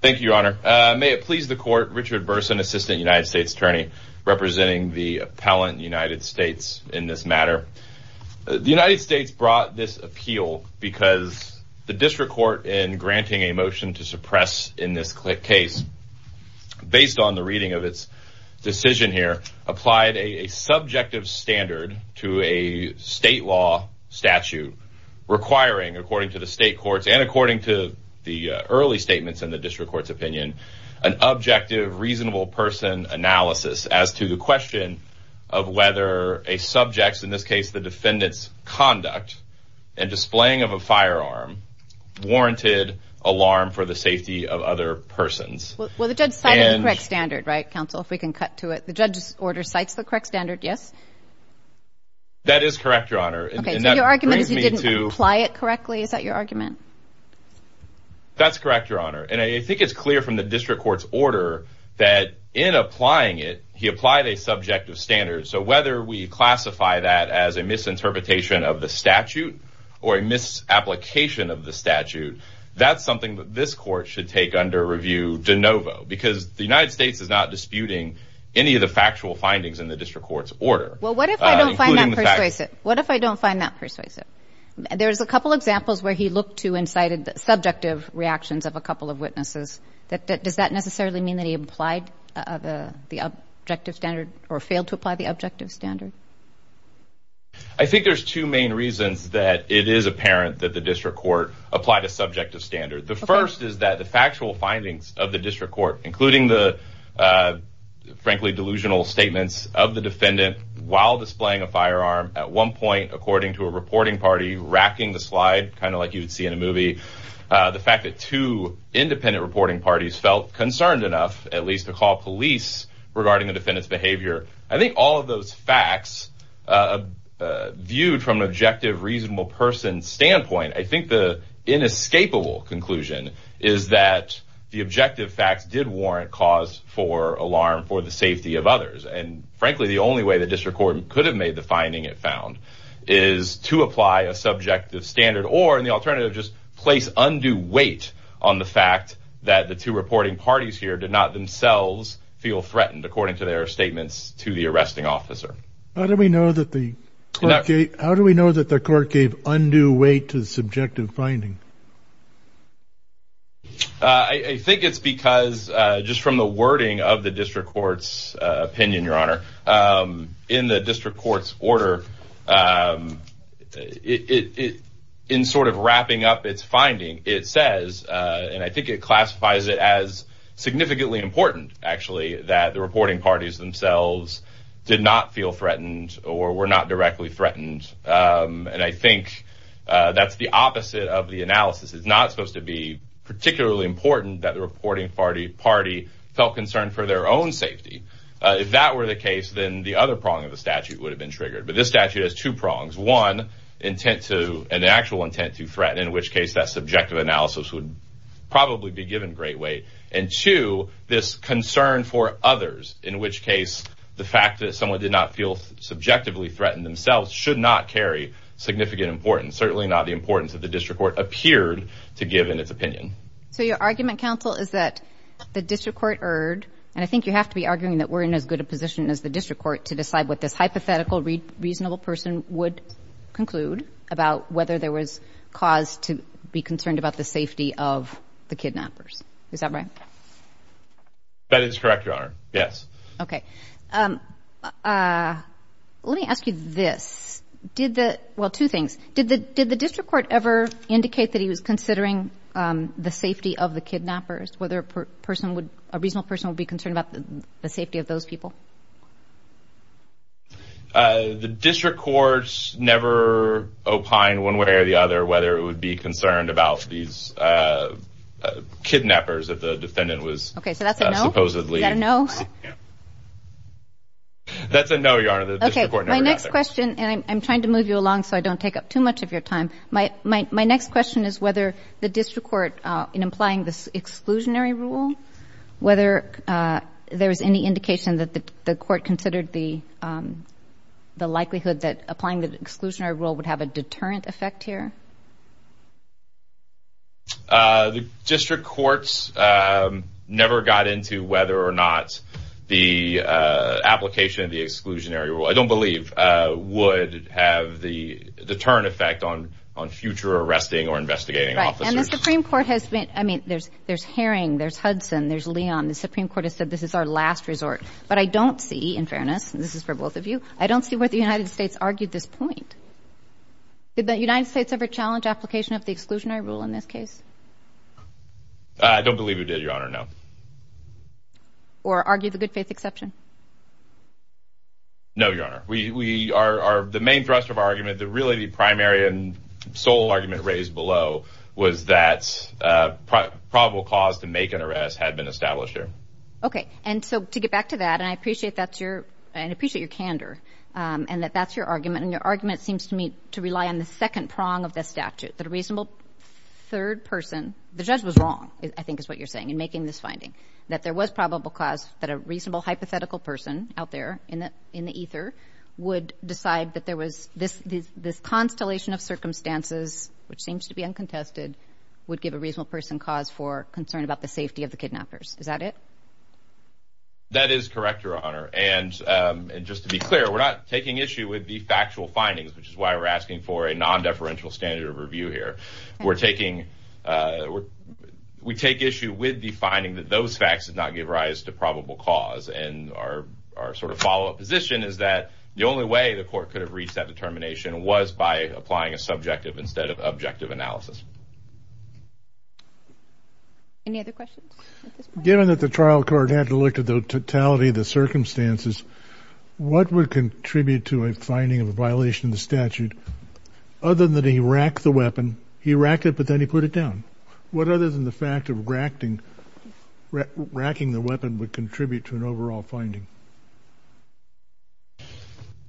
Thank you, Your Honor. May it please the Court, Richard Burson, Assistant United States Attorney, representing the Appellant United States in this matter. The United States brought this appeal because the District Court, in granting a motion to suppress in this case, based on the reading of its decision here, applied a subjective standard to a state law statute requiring, according to the state courts and according to the early statements in the District Court's opinion, an objective, reasonable person analysis as to the question of whether a subject's, in this case the defendant's, conduct and displaying of a firearm warranted alarm for the safety of other persons. Judge O'Connell Well, the judge cited the correct standard, right, counsel, if we can cut to it. The judge's order cites the correct standard, yes? Judge Burson That is correct, Your Honor. Judge O'Connell Okay, so your argument is he didn't apply it correctly? Is that your argument? Judge Burson That's correct, Your Honor. And I think it's clear from the District Court's order that in applying it, he applied a subjective standard. So whether we classify that as a misinterpretation of the statute or a misapplication of the statute, that's something that this Court should take under review de novo because the United States is not disputing any of the factual findings in the District Court's order. Judge O'Connell Well, what if I don't find that persuasive? What if I don't find that persuasive? There's a couple examples where he looked to and cited subjective reactions of a couple of witnesses. Does that necessarily mean that he applied the objective standard or failed to apply the objective standard? Judge Burson I think there's two main reasons that it is apparent that the District Court applied a subjective standard. The first is that the factual findings of the District Court, including the frankly delusional statements of the defendant while displaying a firearm at one point according to a reporting party racking the slide, kind of like you'd see in a movie, the fact that two independent reporting parties felt concerned enough at least to call police regarding the defendant's behavior. I think all of those facts viewed from an objective, reasonable person standpoint, I think the inescapable conclusion is that the objective facts did warrant cause for alarm for the safety of others. And frankly, the only way the District Court could have made the finding it found is to apply a subjective standard or, in the alternative, just place undue weight on the fact that the two reporting parties here did not themselves feel threatened according to their statements to the arresting officer. Judge O'Connell How do we know that the court gave undue weight to the subjective finding? I think it's because just from the wording of the District Court's opinion, Your Honor, in the District Court's order, in sort of wrapping up its finding, it says, and I think it classifies it as significantly important, actually, that the reporting parties themselves did not feel threatened or were not directly threatened. And I think that's the opposite of the analysis. It's not supposed to be particularly important that the reporting party felt concerned for their own safety. If that were the case, then the other prong of the statute would have been triggered. But this statute has two prongs. One, an actual intent to threaten, in which case that subjective analysis would probably be given great weight. And two, this concern for others, in which case the fact that someone did not feel subjectively threatened themselves should not carry significant importance, certainly not the importance that the District Court appeared to give in its opinion. So your argument, counsel, is that the District Court erred, and I think you have to be arguing that we're in as good a position as the District Court to decide what this hypothetical reasonable person would conclude about whether there was cause to be concerned about the safety of the kidnappers. Is that right? That is correct, Your Honor. Yes. Okay. Let me ask you this. Did the, well, two things. Did the District Court ever indicate that he was considering the safety of the kidnappers, whether a person would, a reasonable person would be concerned about the safety of those people? The District Court never opined one way or the other whether it would be concerned about these kidnappers if the defendant was supposedly... Okay, so that's a no? Supposedly. Is that a no? Yeah. That's a no, Your Honor. The District Court never got there. Okay. My next question, and I'm trying to move you along so I don't take up too much of your time. My next question is whether the District Court, in applying this exclusionary rule, whether there was any indication that the Court considered the likelihood that applying the exclusionary rule would have a deterrent effect here? The District Courts never got into whether or not the application of the exclusionary rule, I don't believe, would have the deterrent effect on future arresting or investigating officers. Right. And the Supreme Court has been, I mean, there's Herring, there's Hudson, there's Leon. The Supreme Court has said this is our last resort. But I don't see, in fairness, and this is for both of you, I don't see why the United States argued this point. Did the United States ever challenge application of the exclusionary rule in this case? I don't believe it did, Your Honor, no. Or argue the good-faith exception? No, Your Honor. The main thrust of our argument, really the primary and sole argument raised below was that probable cause to make an arrest had been established here. Okay. And so to get back to that, and I appreciate that's your, and I appreciate your candor and that that's your argument, and your argument seems to me to rely on the second prong of the statute, that a reasonable third person, the judge was wrong, I think is what you're saying in making this finding, that there was probable cause that a reasonable hypothetical person out there in the ether would decide that there was this constellation of circumstances, which seems to be uncontested, would give a reasonable person cause for concern about the safety of the kidnappers. Is that it? That is correct, Your Honor. And just to be clear, we're not taking issue with the factual findings, which is why we're asking for a non-deferential standard of review here. We're taking, we take issue with the finding that those facts did not give rise to probable cause, and our sort of follow-up position is that the only way the court could have reached that determination was by applying a subjective instead of objective analysis. Any other questions? Given that the trial court had to look at the totality of the circumstances, what would contribute to a finding of a violation of the statute, other than that he racked the weapon, he racked it but then he put it down? What other than the fact of racking the weapon would contribute to an overall finding?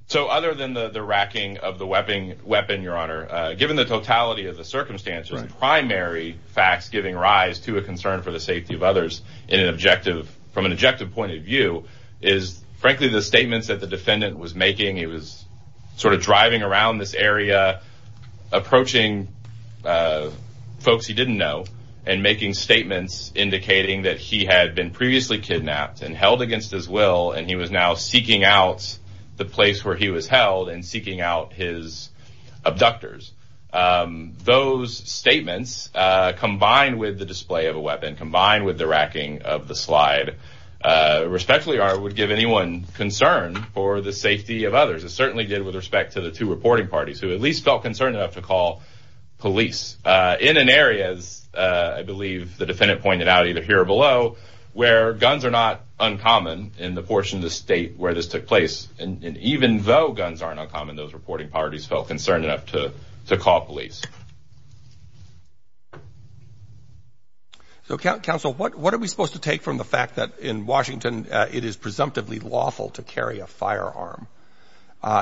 So other than the racking of the weapon, Your Honor, given the totality of the circumstances, primary facts giving rise to a concern for the safety of others in an objective, from an objective point of view, is frankly the statements that the defendant was making. He was sort of driving around this area, approaching folks he didn't know, and making statements indicating that he had been previously kidnapped and held against his will, and he was now combined with the display of a weapon, combined with the racking of the slide. Respectfully, Your Honor, it would give anyone concern for the safety of others. It certainly did with respect to the two reporting parties who at least felt concerned enough to call police in an area, as I believe the defendant pointed out, either here or below, where guns are not uncommon in the portion of the state where this took place, and even though guns aren't uncommon, those reporting parties felt concerned enough to call police. So, Counsel, what are we supposed to take from the fact that in Washington it is presumptively lawful to carry a firearm?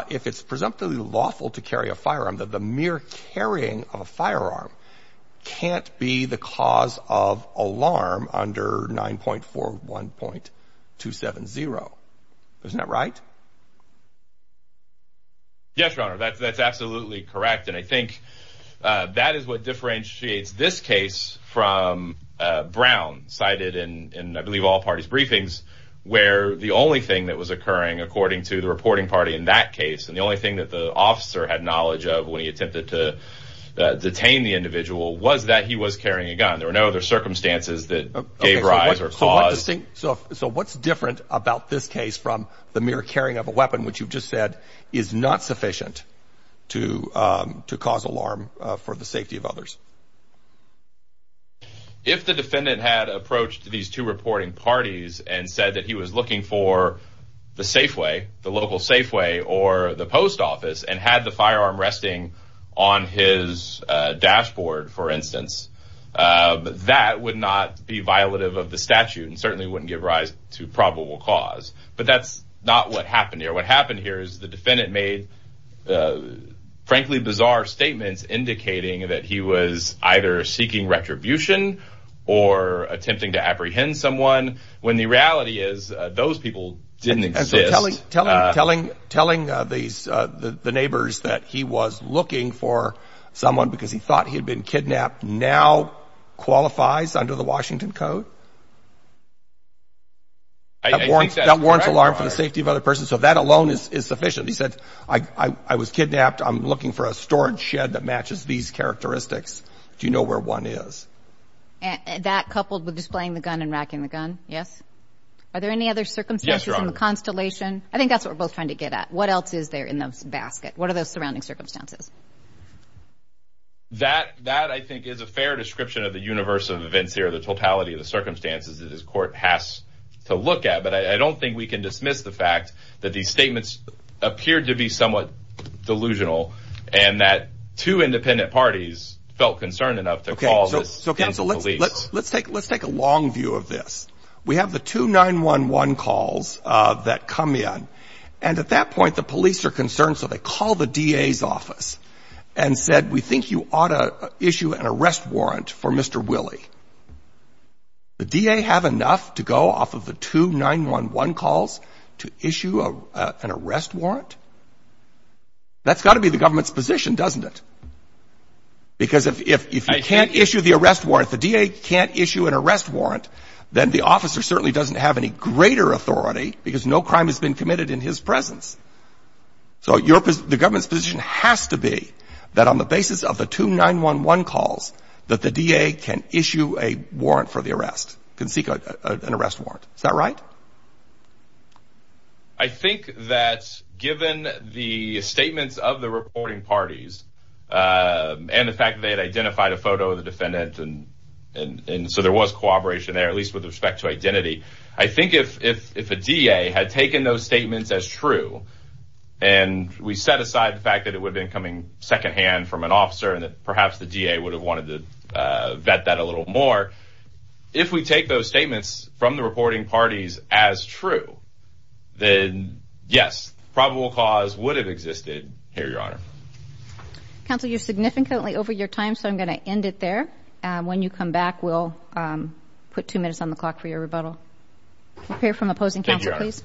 If it's presumptively lawful to carry a firearm, that the mere carrying of a firearm can't be the cause of alarm under 9.41.270. Isn't that right? Yes, Your Honor, that's absolutely correct, and I think that is what differentiates this case from Brown, cited in, I believe, all parties' briefings, where the only thing that was occurring, according to the reporting party in that case, and the only thing that the officer had knowledge of when he attempted to detain the individual was that he was carrying a gun. There were no other circumstances that gave rise or caused... So what's different about this case from the mere carrying of a weapon, which you've just said is not sufficient to cause alarm for the safety of others? If the defendant had approached these two reporting parties and said that he was looking for the Safeway, the local Safeway or the post office, and had the firearm resting on his dashboard, for instance, that would not be violative of the statute and certainly wouldn't give rise to probable cause. But that's not what happened here. What happened here is the defendant made, frankly, bizarre statements indicating that he was either seeking retribution or attempting to apprehend someone, when the reality is those people didn't exist. Telling the neighbors that he was looking for someone because he thought he'd been kidnapped now qualifies under the Washington Code. That warrants alarm for the safety of other persons. So that alone is sufficient. He said, I was kidnapped. I'm looking for a storage shed that matches these characteristics. Do you know where one is? That coupled with displaying the gun and racking the gun? Yes. Are there any other circumstances in the Constellation? I think that's what we're both trying to get at. What else is there in those baskets? What are those surrounding circumstances? That, I think, is a fair description of the universe of events here, the totality of the circumstances that this court has to look at. But I don't think we can dismiss the fact that these statements appeared to be somewhat delusional and that two independent parties felt concerned enough to call the police. Let's take a long view of this. We have the two 911 calls that come in. And at that point, the police are concerned, so they call the DA's office. And said, we think you ought to issue an arrest warrant for Mr. Willie. The DA have enough to go off of the two 911 calls to issue an arrest warrant? That's got to be the government's position, doesn't it? Because if you can't issue the arrest warrant, the DA can't issue an arrest warrant, then the officer certainly doesn't have any greater authority because no crime has been committed in his presence. So the government's position has to be that on the basis of the two 911 calls, that the DA can issue a warrant for the arrest, can seek an arrest warrant. Is that right? I think that given the statements of the reporting parties and the fact that they had identified a photo of the defendant, and so there was cooperation there, at least with respect to identity. I think if a DA had taken those statements as true, and we set aside the fact that it would have been coming secondhand from an officer, and that perhaps the DA would have wanted to vet that a little more. If we take those statements from the reporting parties as true, then yes, probable cause would have existed here, Your Honor. Counsel, you're significantly over your time, so I'm going to end it there. When you come back, we'll put two minutes on the clock for your rebuttal. We'll hear from opposing counsel, please.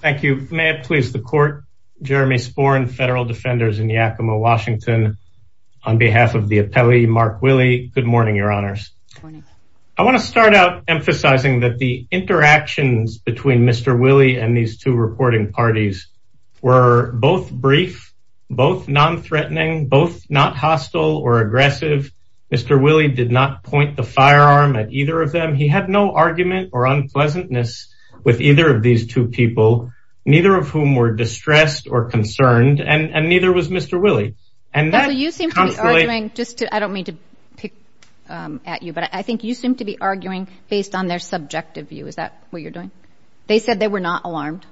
Thank you. May it please the Court, Jeremy Sporn, Federal Defenders in Yakima, Washington. On behalf of the appellee, Mark Willey, good morning, Your Honors. I want to start out emphasizing that the interactions between Mr. Willey and these reporting parties were both brief, both non-threatening, both not hostile or aggressive. Mr. Willey did not point the firearm at either of them. He had no argument or unpleasantness with either of these two people, neither of whom were distressed or concerned, and neither was Mr. Willey. I don't mean to pick at you, but I think you seem to be arguing based on their subjective view. Is that what you're doing? They said they were not alarmed.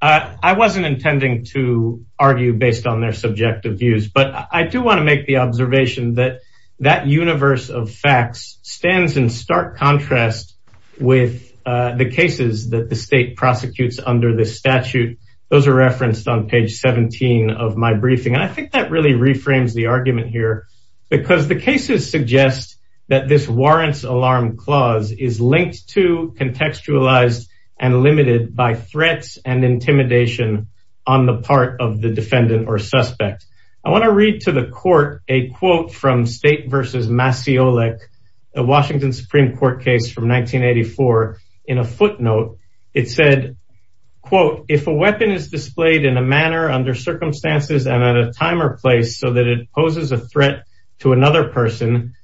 I wasn't intending to argue based on their subjective views, but I do want to make the observation that that universe of facts stands in stark contrast with the cases that the state prosecutes under this statute. Those are referenced on page 17 of my briefing, and I think that really reframes the argument here because the cases suggest that this warrants alarm clause is linked to, contextualized, and limited by threats and intimidation on the part of the defendant or suspect. I want to read to the court a quote from State v. Masiolik, a Washington Supreme Court case from 1984. In a footnote, it said, if a weapon is displayed in a manner, under circumstances, and at a time or place so that poses a threat to another person,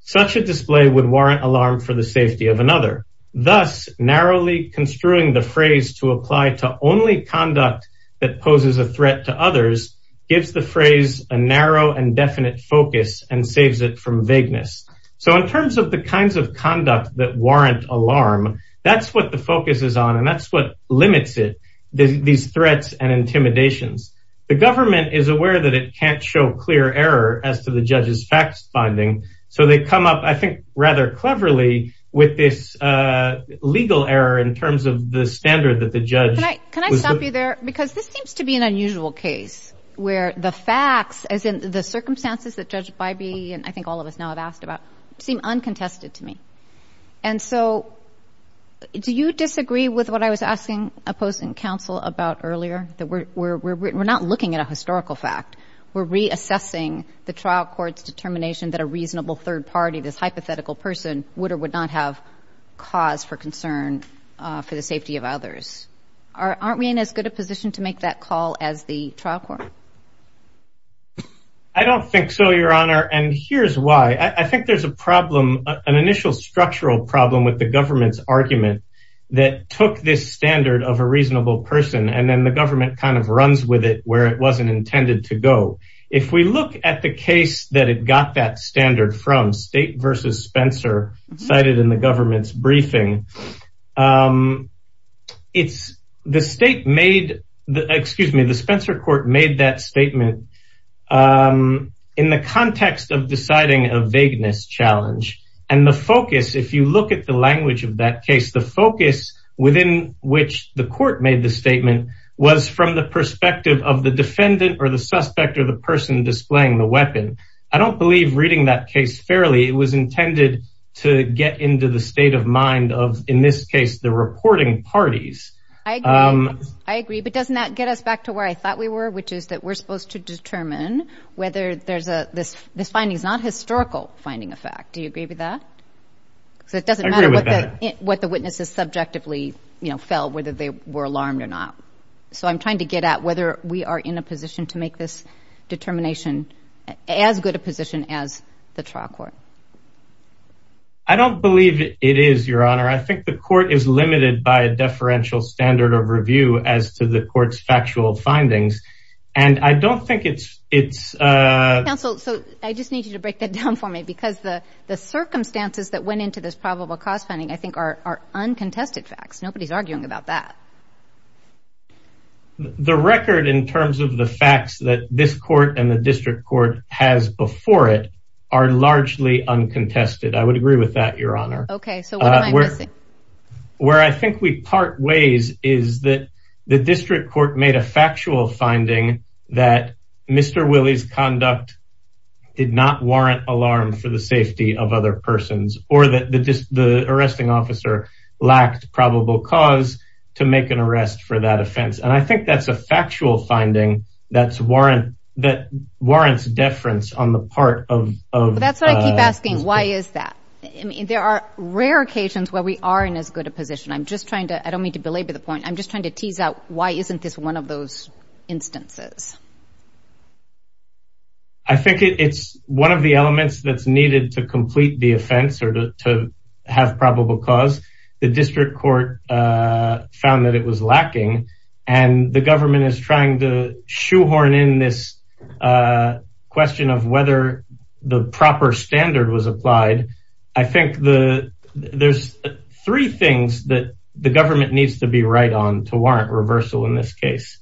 such a display would warrant alarm for the safety of another. Thus, narrowly construing the phrase to apply to only conduct that poses a threat to others gives the phrase a narrow and definite focus and saves it from vagueness. So, in terms of the kinds of conduct that warrant alarm, that's what the focus is on, and that's what limits it, these threats and intimidations. The government is aware that it can't show clear error as to the judge's facts finding, so they come up, I think, rather cleverly with this legal error in terms of the standard that the judge... Can I stop you there? Because this seems to be an unusual case where the facts, as in the circumstances that Judge Bybee and I think all of us now have asked about, seem uncontested to me. And so, do you disagree with what I was asking opposing counsel about earlier? That we're not looking at a historical fact, we're reassessing the trial court's determination that a reasonable third party, this hypothetical person, would or would not have cause for concern for the safety of others. Aren't we in as good a position to make that call as the trial court? I don't think so, Your Honor, and here's why. I think there's a problem, an initial structural problem with the government's argument that took this standard of a reasonable person, and then the government kind of runs with it where it wasn't intended to go. If we look at the case that it got that standard from, State v. Spencer, cited in the government's briefing, the State made... Excuse me, the Spencer Court made that of that case. The focus within which the court made the statement was from the perspective of the defendant or the suspect or the person displaying the weapon. I don't believe reading that case fairly, it was intended to get into the state of mind of, in this case, the reporting parties. I agree, but doesn't that get us back to where I thought we were, which is that we're supposed to determine whether this finding is not a historical finding of fact. Do you agree with that? I agree with that. It doesn't matter what the witnesses subjectively felt, whether they were alarmed or not. I'm trying to get at whether we are in a position to make this determination as good a position as the trial court. I don't believe it is, Your Honor. I think the court is limited by a deferential standard of review as to the court's factual findings, and I don't think it's... Counsel, I just need you to break that down for me because the circumstances that went into this probable cause finding, I think, are uncontested facts. Nobody's arguing about that. The record in terms of the facts that this court and the district court has before it are largely uncontested. I would agree with that, Your Honor. Okay, so what am I missing? Where I think we part ways is that the district court made a factual finding that Mr. Willie's conduct did not warrant alarm for the safety of other persons or that the arresting officer lacked probable cause to make an arrest for that offense, and I think that's a factual finding that warrants deference on the part of... That's what I keep asking. Why is that? There are rare occasions where we are in as good a position. I'm just trying to... I don't mean to belabor the point. I'm just trying to tease out why isn't this one of those instances? I think it's one of the elements that's needed to complete the offense or to have probable cause. The district court found that it was lacking, and the government is trying to shoehorn in this question of whether the proper standard was applied. I think there's three things that the government needs to be right on to warrant reversal in this case.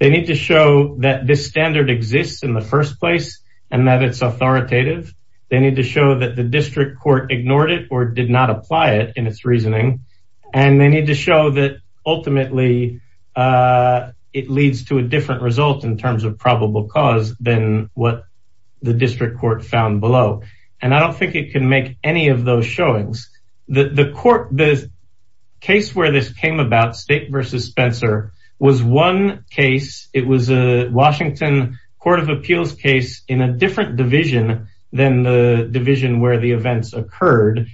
They need to show that this standard exists in the first place and that it's authoritative. They need to show that the district court ignored it or did not apply it in its reasoning, and they need to show that ultimately it leads to a different result in terms of probable cause than what the district court found below, and I don't think it can make any of those showings. The case where this came about, State v. Spencer, was one case. It was a Washington Court of Appeals case in a different division than the division where the events occurred,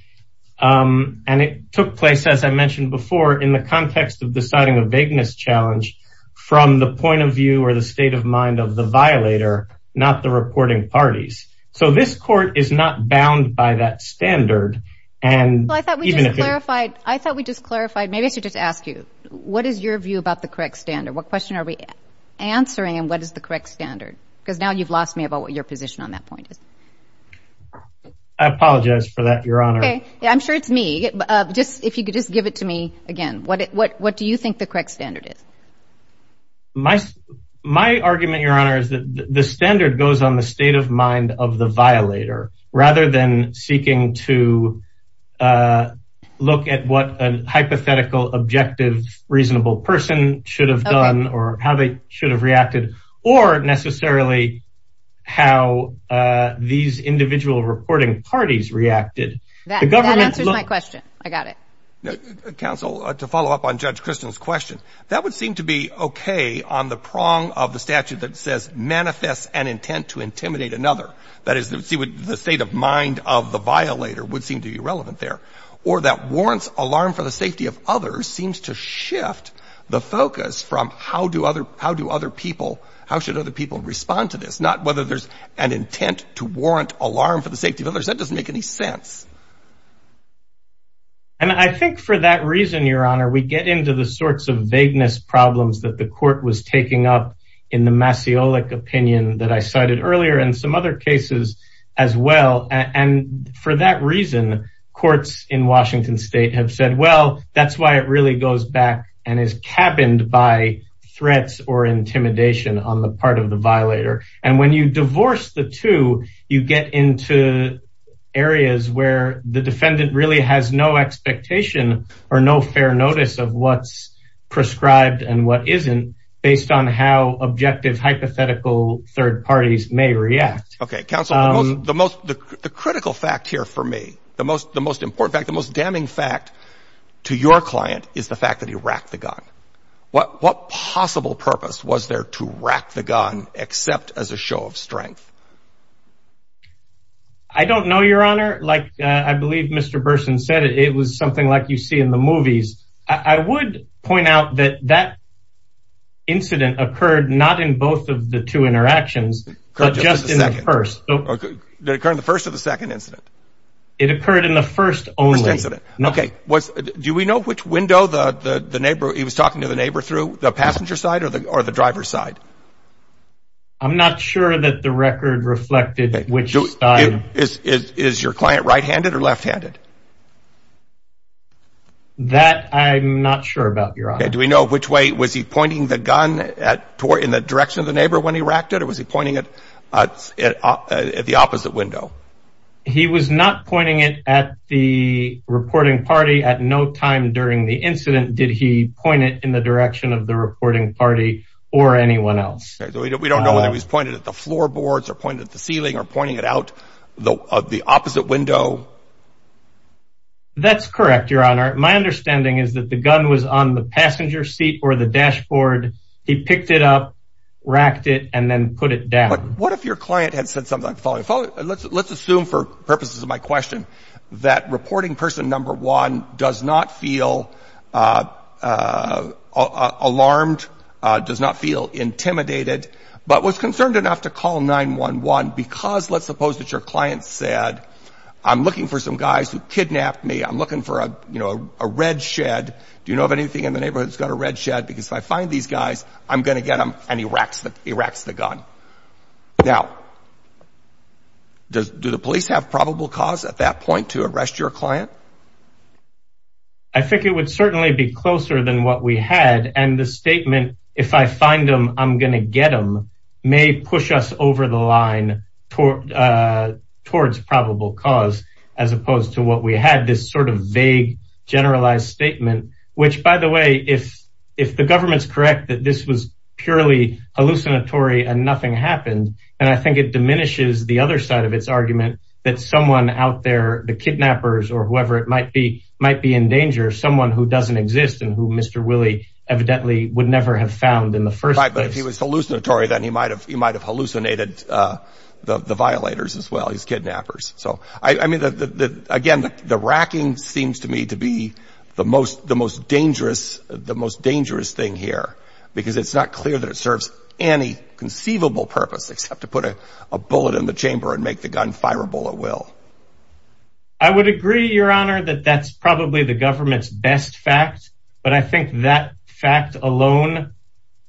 and it took place, as I mentioned before, in the context of deciding a vagueness challenge from the point of view or the state of mind of the violator, not the reporting parties. So this court is not bound by that standard. I thought we just clarified, maybe I should just ask you, what is your view about the correct standard? What question are we answering and what is the correct standard? Because now you've lost me about what your position on that point is. I apologize for that, Your Honor. I'm sure it's me. If you could just give it to me again, what do you think the correct standard is? My argument, Your Honor, is that the standard goes on the state of mind of the violator rather than seeking to look at what a hypothetical, objective, reasonable person should have done or how they should have reacted or necessarily how these individual reporting parties reacted. That answers my question. I got it. Counsel, to follow up on Judge Christian's question, that would seem to be okay on the prong of the statute that says manifests an intent to intimidate another. That is, the state of mind of the violator would seem to be irrelevant there. Or that warrants alarm for the safety of others seems to shift the focus from how should other people respond to this, not whether there's an intent to warrant alarm for the safety of others. That doesn't make any sense. And I think for that reason, Your Honor, we get into the sorts of vagueness problems that the court was taking up in the Masiolik opinion that I cited earlier and some other cases as well. And for that reason, courts in Washington State have said, well, that's why it really goes back and is cabined by threats or intimidation on the part of the violator. And when you divorce the two, you get into areas where the defendant really has no expectation or no fair notice of what's prescribed and what isn't based on how objective hypothetical third parties may react. Okay. Counsel, the most critical fact here for me, the most important fact, the most damning fact to your client is the fact that he racked the gun. What possible purpose was there to rack the gun except as a show of strength? I don't know, Your Honor. Like I believe Mr. Burson said, it was something like you see in the movies. I would point out that that incident occurred not in both of the two interactions, but just in the first. Did it occur in the first or the second incident? It occurred in the first only. First incident. Okay. Do we know which window the neighbor, he was talking to the neighbor through, the passenger side or the driver's side? I'm not sure that the record reflected which side. Is your client right-handed or left-handed? That I'm not sure about, Your Honor. Okay. Do we know which way, was he pointing the gun in the direction of the neighbor when he racked it or was he pointing it at the opposite window? He was not pointing it at the reporting party at no time during the incident. Did he point it in the direction of the reporting party or anyone else? We don't know whether he's pointed at the floorboards or pointed at the ceiling or pointing it out of the opposite window. That's correct, Your Honor. My understanding is that the gun was on the passenger seat or the dashboard. He picked it up, racked it, and then put it down. What if your client had said something like, let's assume for purposes of my question, that reporting person number one does not feel alarmed, does not feel intimidated, but was concerned enough to call 9-1-1 because, let's suppose that your client said, I'm looking for some guys who kidnapped me. I'm looking for a red shed. Do you know of anything in the neighborhood that's got a red shed? Because if I find these guys, I'm going to get them and he racks the gun. Now, do the police have probable cause at that point to arrest your client? I think it would certainly be closer than what we had. And the statement, if I find them, I'm going to get them, may push us over the line towards probable cause, as opposed to what we had, this sort of vague, generalized statement, which, by the way, if the government's correct that this was purely hallucinatory and nothing happened, then I think it diminishes the other side of its argument that someone out there, the kidnappers or in danger, someone who doesn't exist and who Mr. Willie evidently would never have found in the first place. But if he was hallucinatory, then he might have he might have hallucinated the violators as well. He's kidnappers. So I mean, again, the racking seems to me to be the most the most dangerous, the most dangerous thing here, because it's not clear that it serves any conceivable purpose except to put a bullet in the chamber and make the gun fireable at will. I would agree, Your Honor, that that's probably the government's best fact. But I think that fact alone,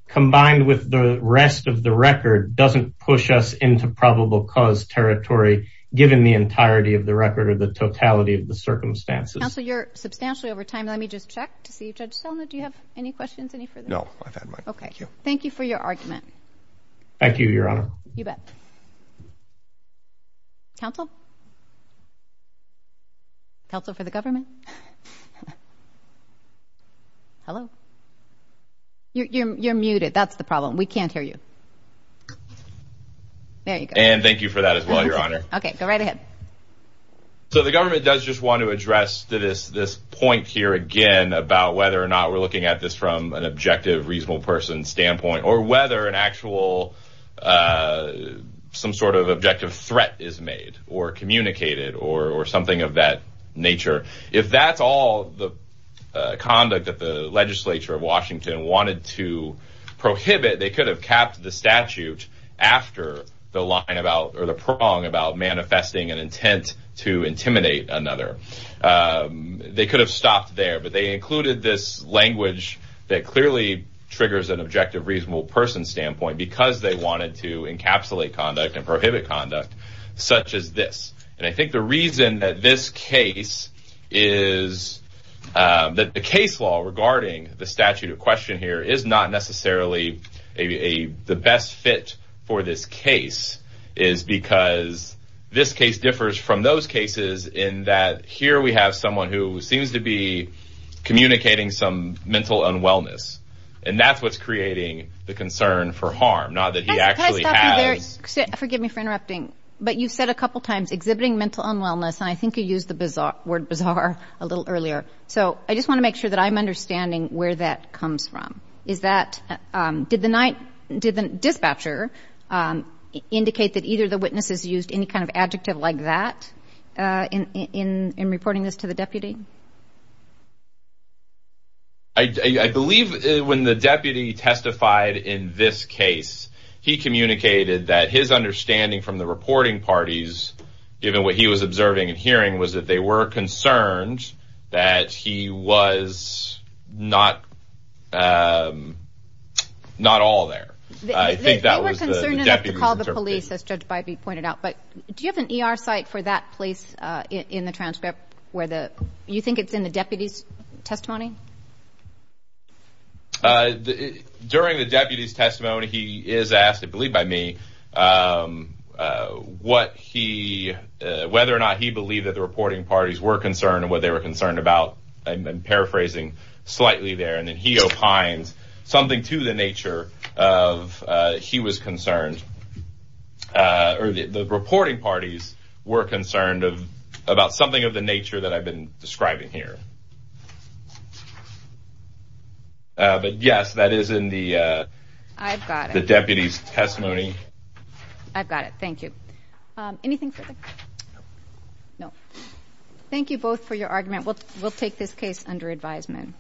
combined with the rest of the record, doesn't push us into probable cause territory, given the entirety of the record or the totality of the circumstances. So you're substantially over time. Let me just check to see if Judge Selma, do you have any questions? No, I've had my okay. Thank you for your argument. Thank you, Your Honor. You bet. Counsel? Counsel for the government? Hello? You're muted. That's the problem. We can't hear you. There you go. And thank you for that as well, Your Honor. Okay, go right ahead. So the government does just want to address this point here again about whether or not we're reasonable person standpoint or whether an actual, some sort of objective threat is made or communicated or something of that nature. If that's all the conduct that the legislature of Washington wanted to prohibit, they could have capped the statute after the line about or the prong about manifesting an intent to intimidate another. They could have stopped there, but they triggers an objective reasonable person standpoint because they wanted to encapsulate conduct and prohibit conduct such as this. And I think the reason that the case law regarding the statute of question here is not necessarily the best fit for this case is because this case differs from those cases in that here we have someone who seems to be communicating some mental unwellness. And that's what's creating the concern for harm, not that he actually has... Forgive me for interrupting, but you said a couple of times exhibiting mental unwellness, and I think you used the word bizarre a little earlier. So I just want to make sure that I'm understanding where that comes from. Did the dispatcher indicate that either the witnesses used any kind of adjective like that in reporting this to the deputy? I believe when the deputy testified in this case, he communicated that his understanding from the reporting parties, given what he was observing and hearing, was that they were concerned that he was not all there. I think that was the deputy's interpretation. They were concerned enough to call the police, as Judge Bybee pointed out. But do you have an ER site for that place in the transcript where the deputies were interpreting? You think it's in the deputy's testimony? During the deputy's testimony, he is asked, I believe by me, whether or not he believed that the reporting parties were concerned and what they were concerned about. I've been paraphrasing slightly there. And then he opines something to the nature of he was concerned, or the reporting parties were concerned about something of the nature that I've been describing here. But yes, that is in the deputy's testimony. I've got it. Thank you. Thank you both for your argument. We'll take this case under advisement.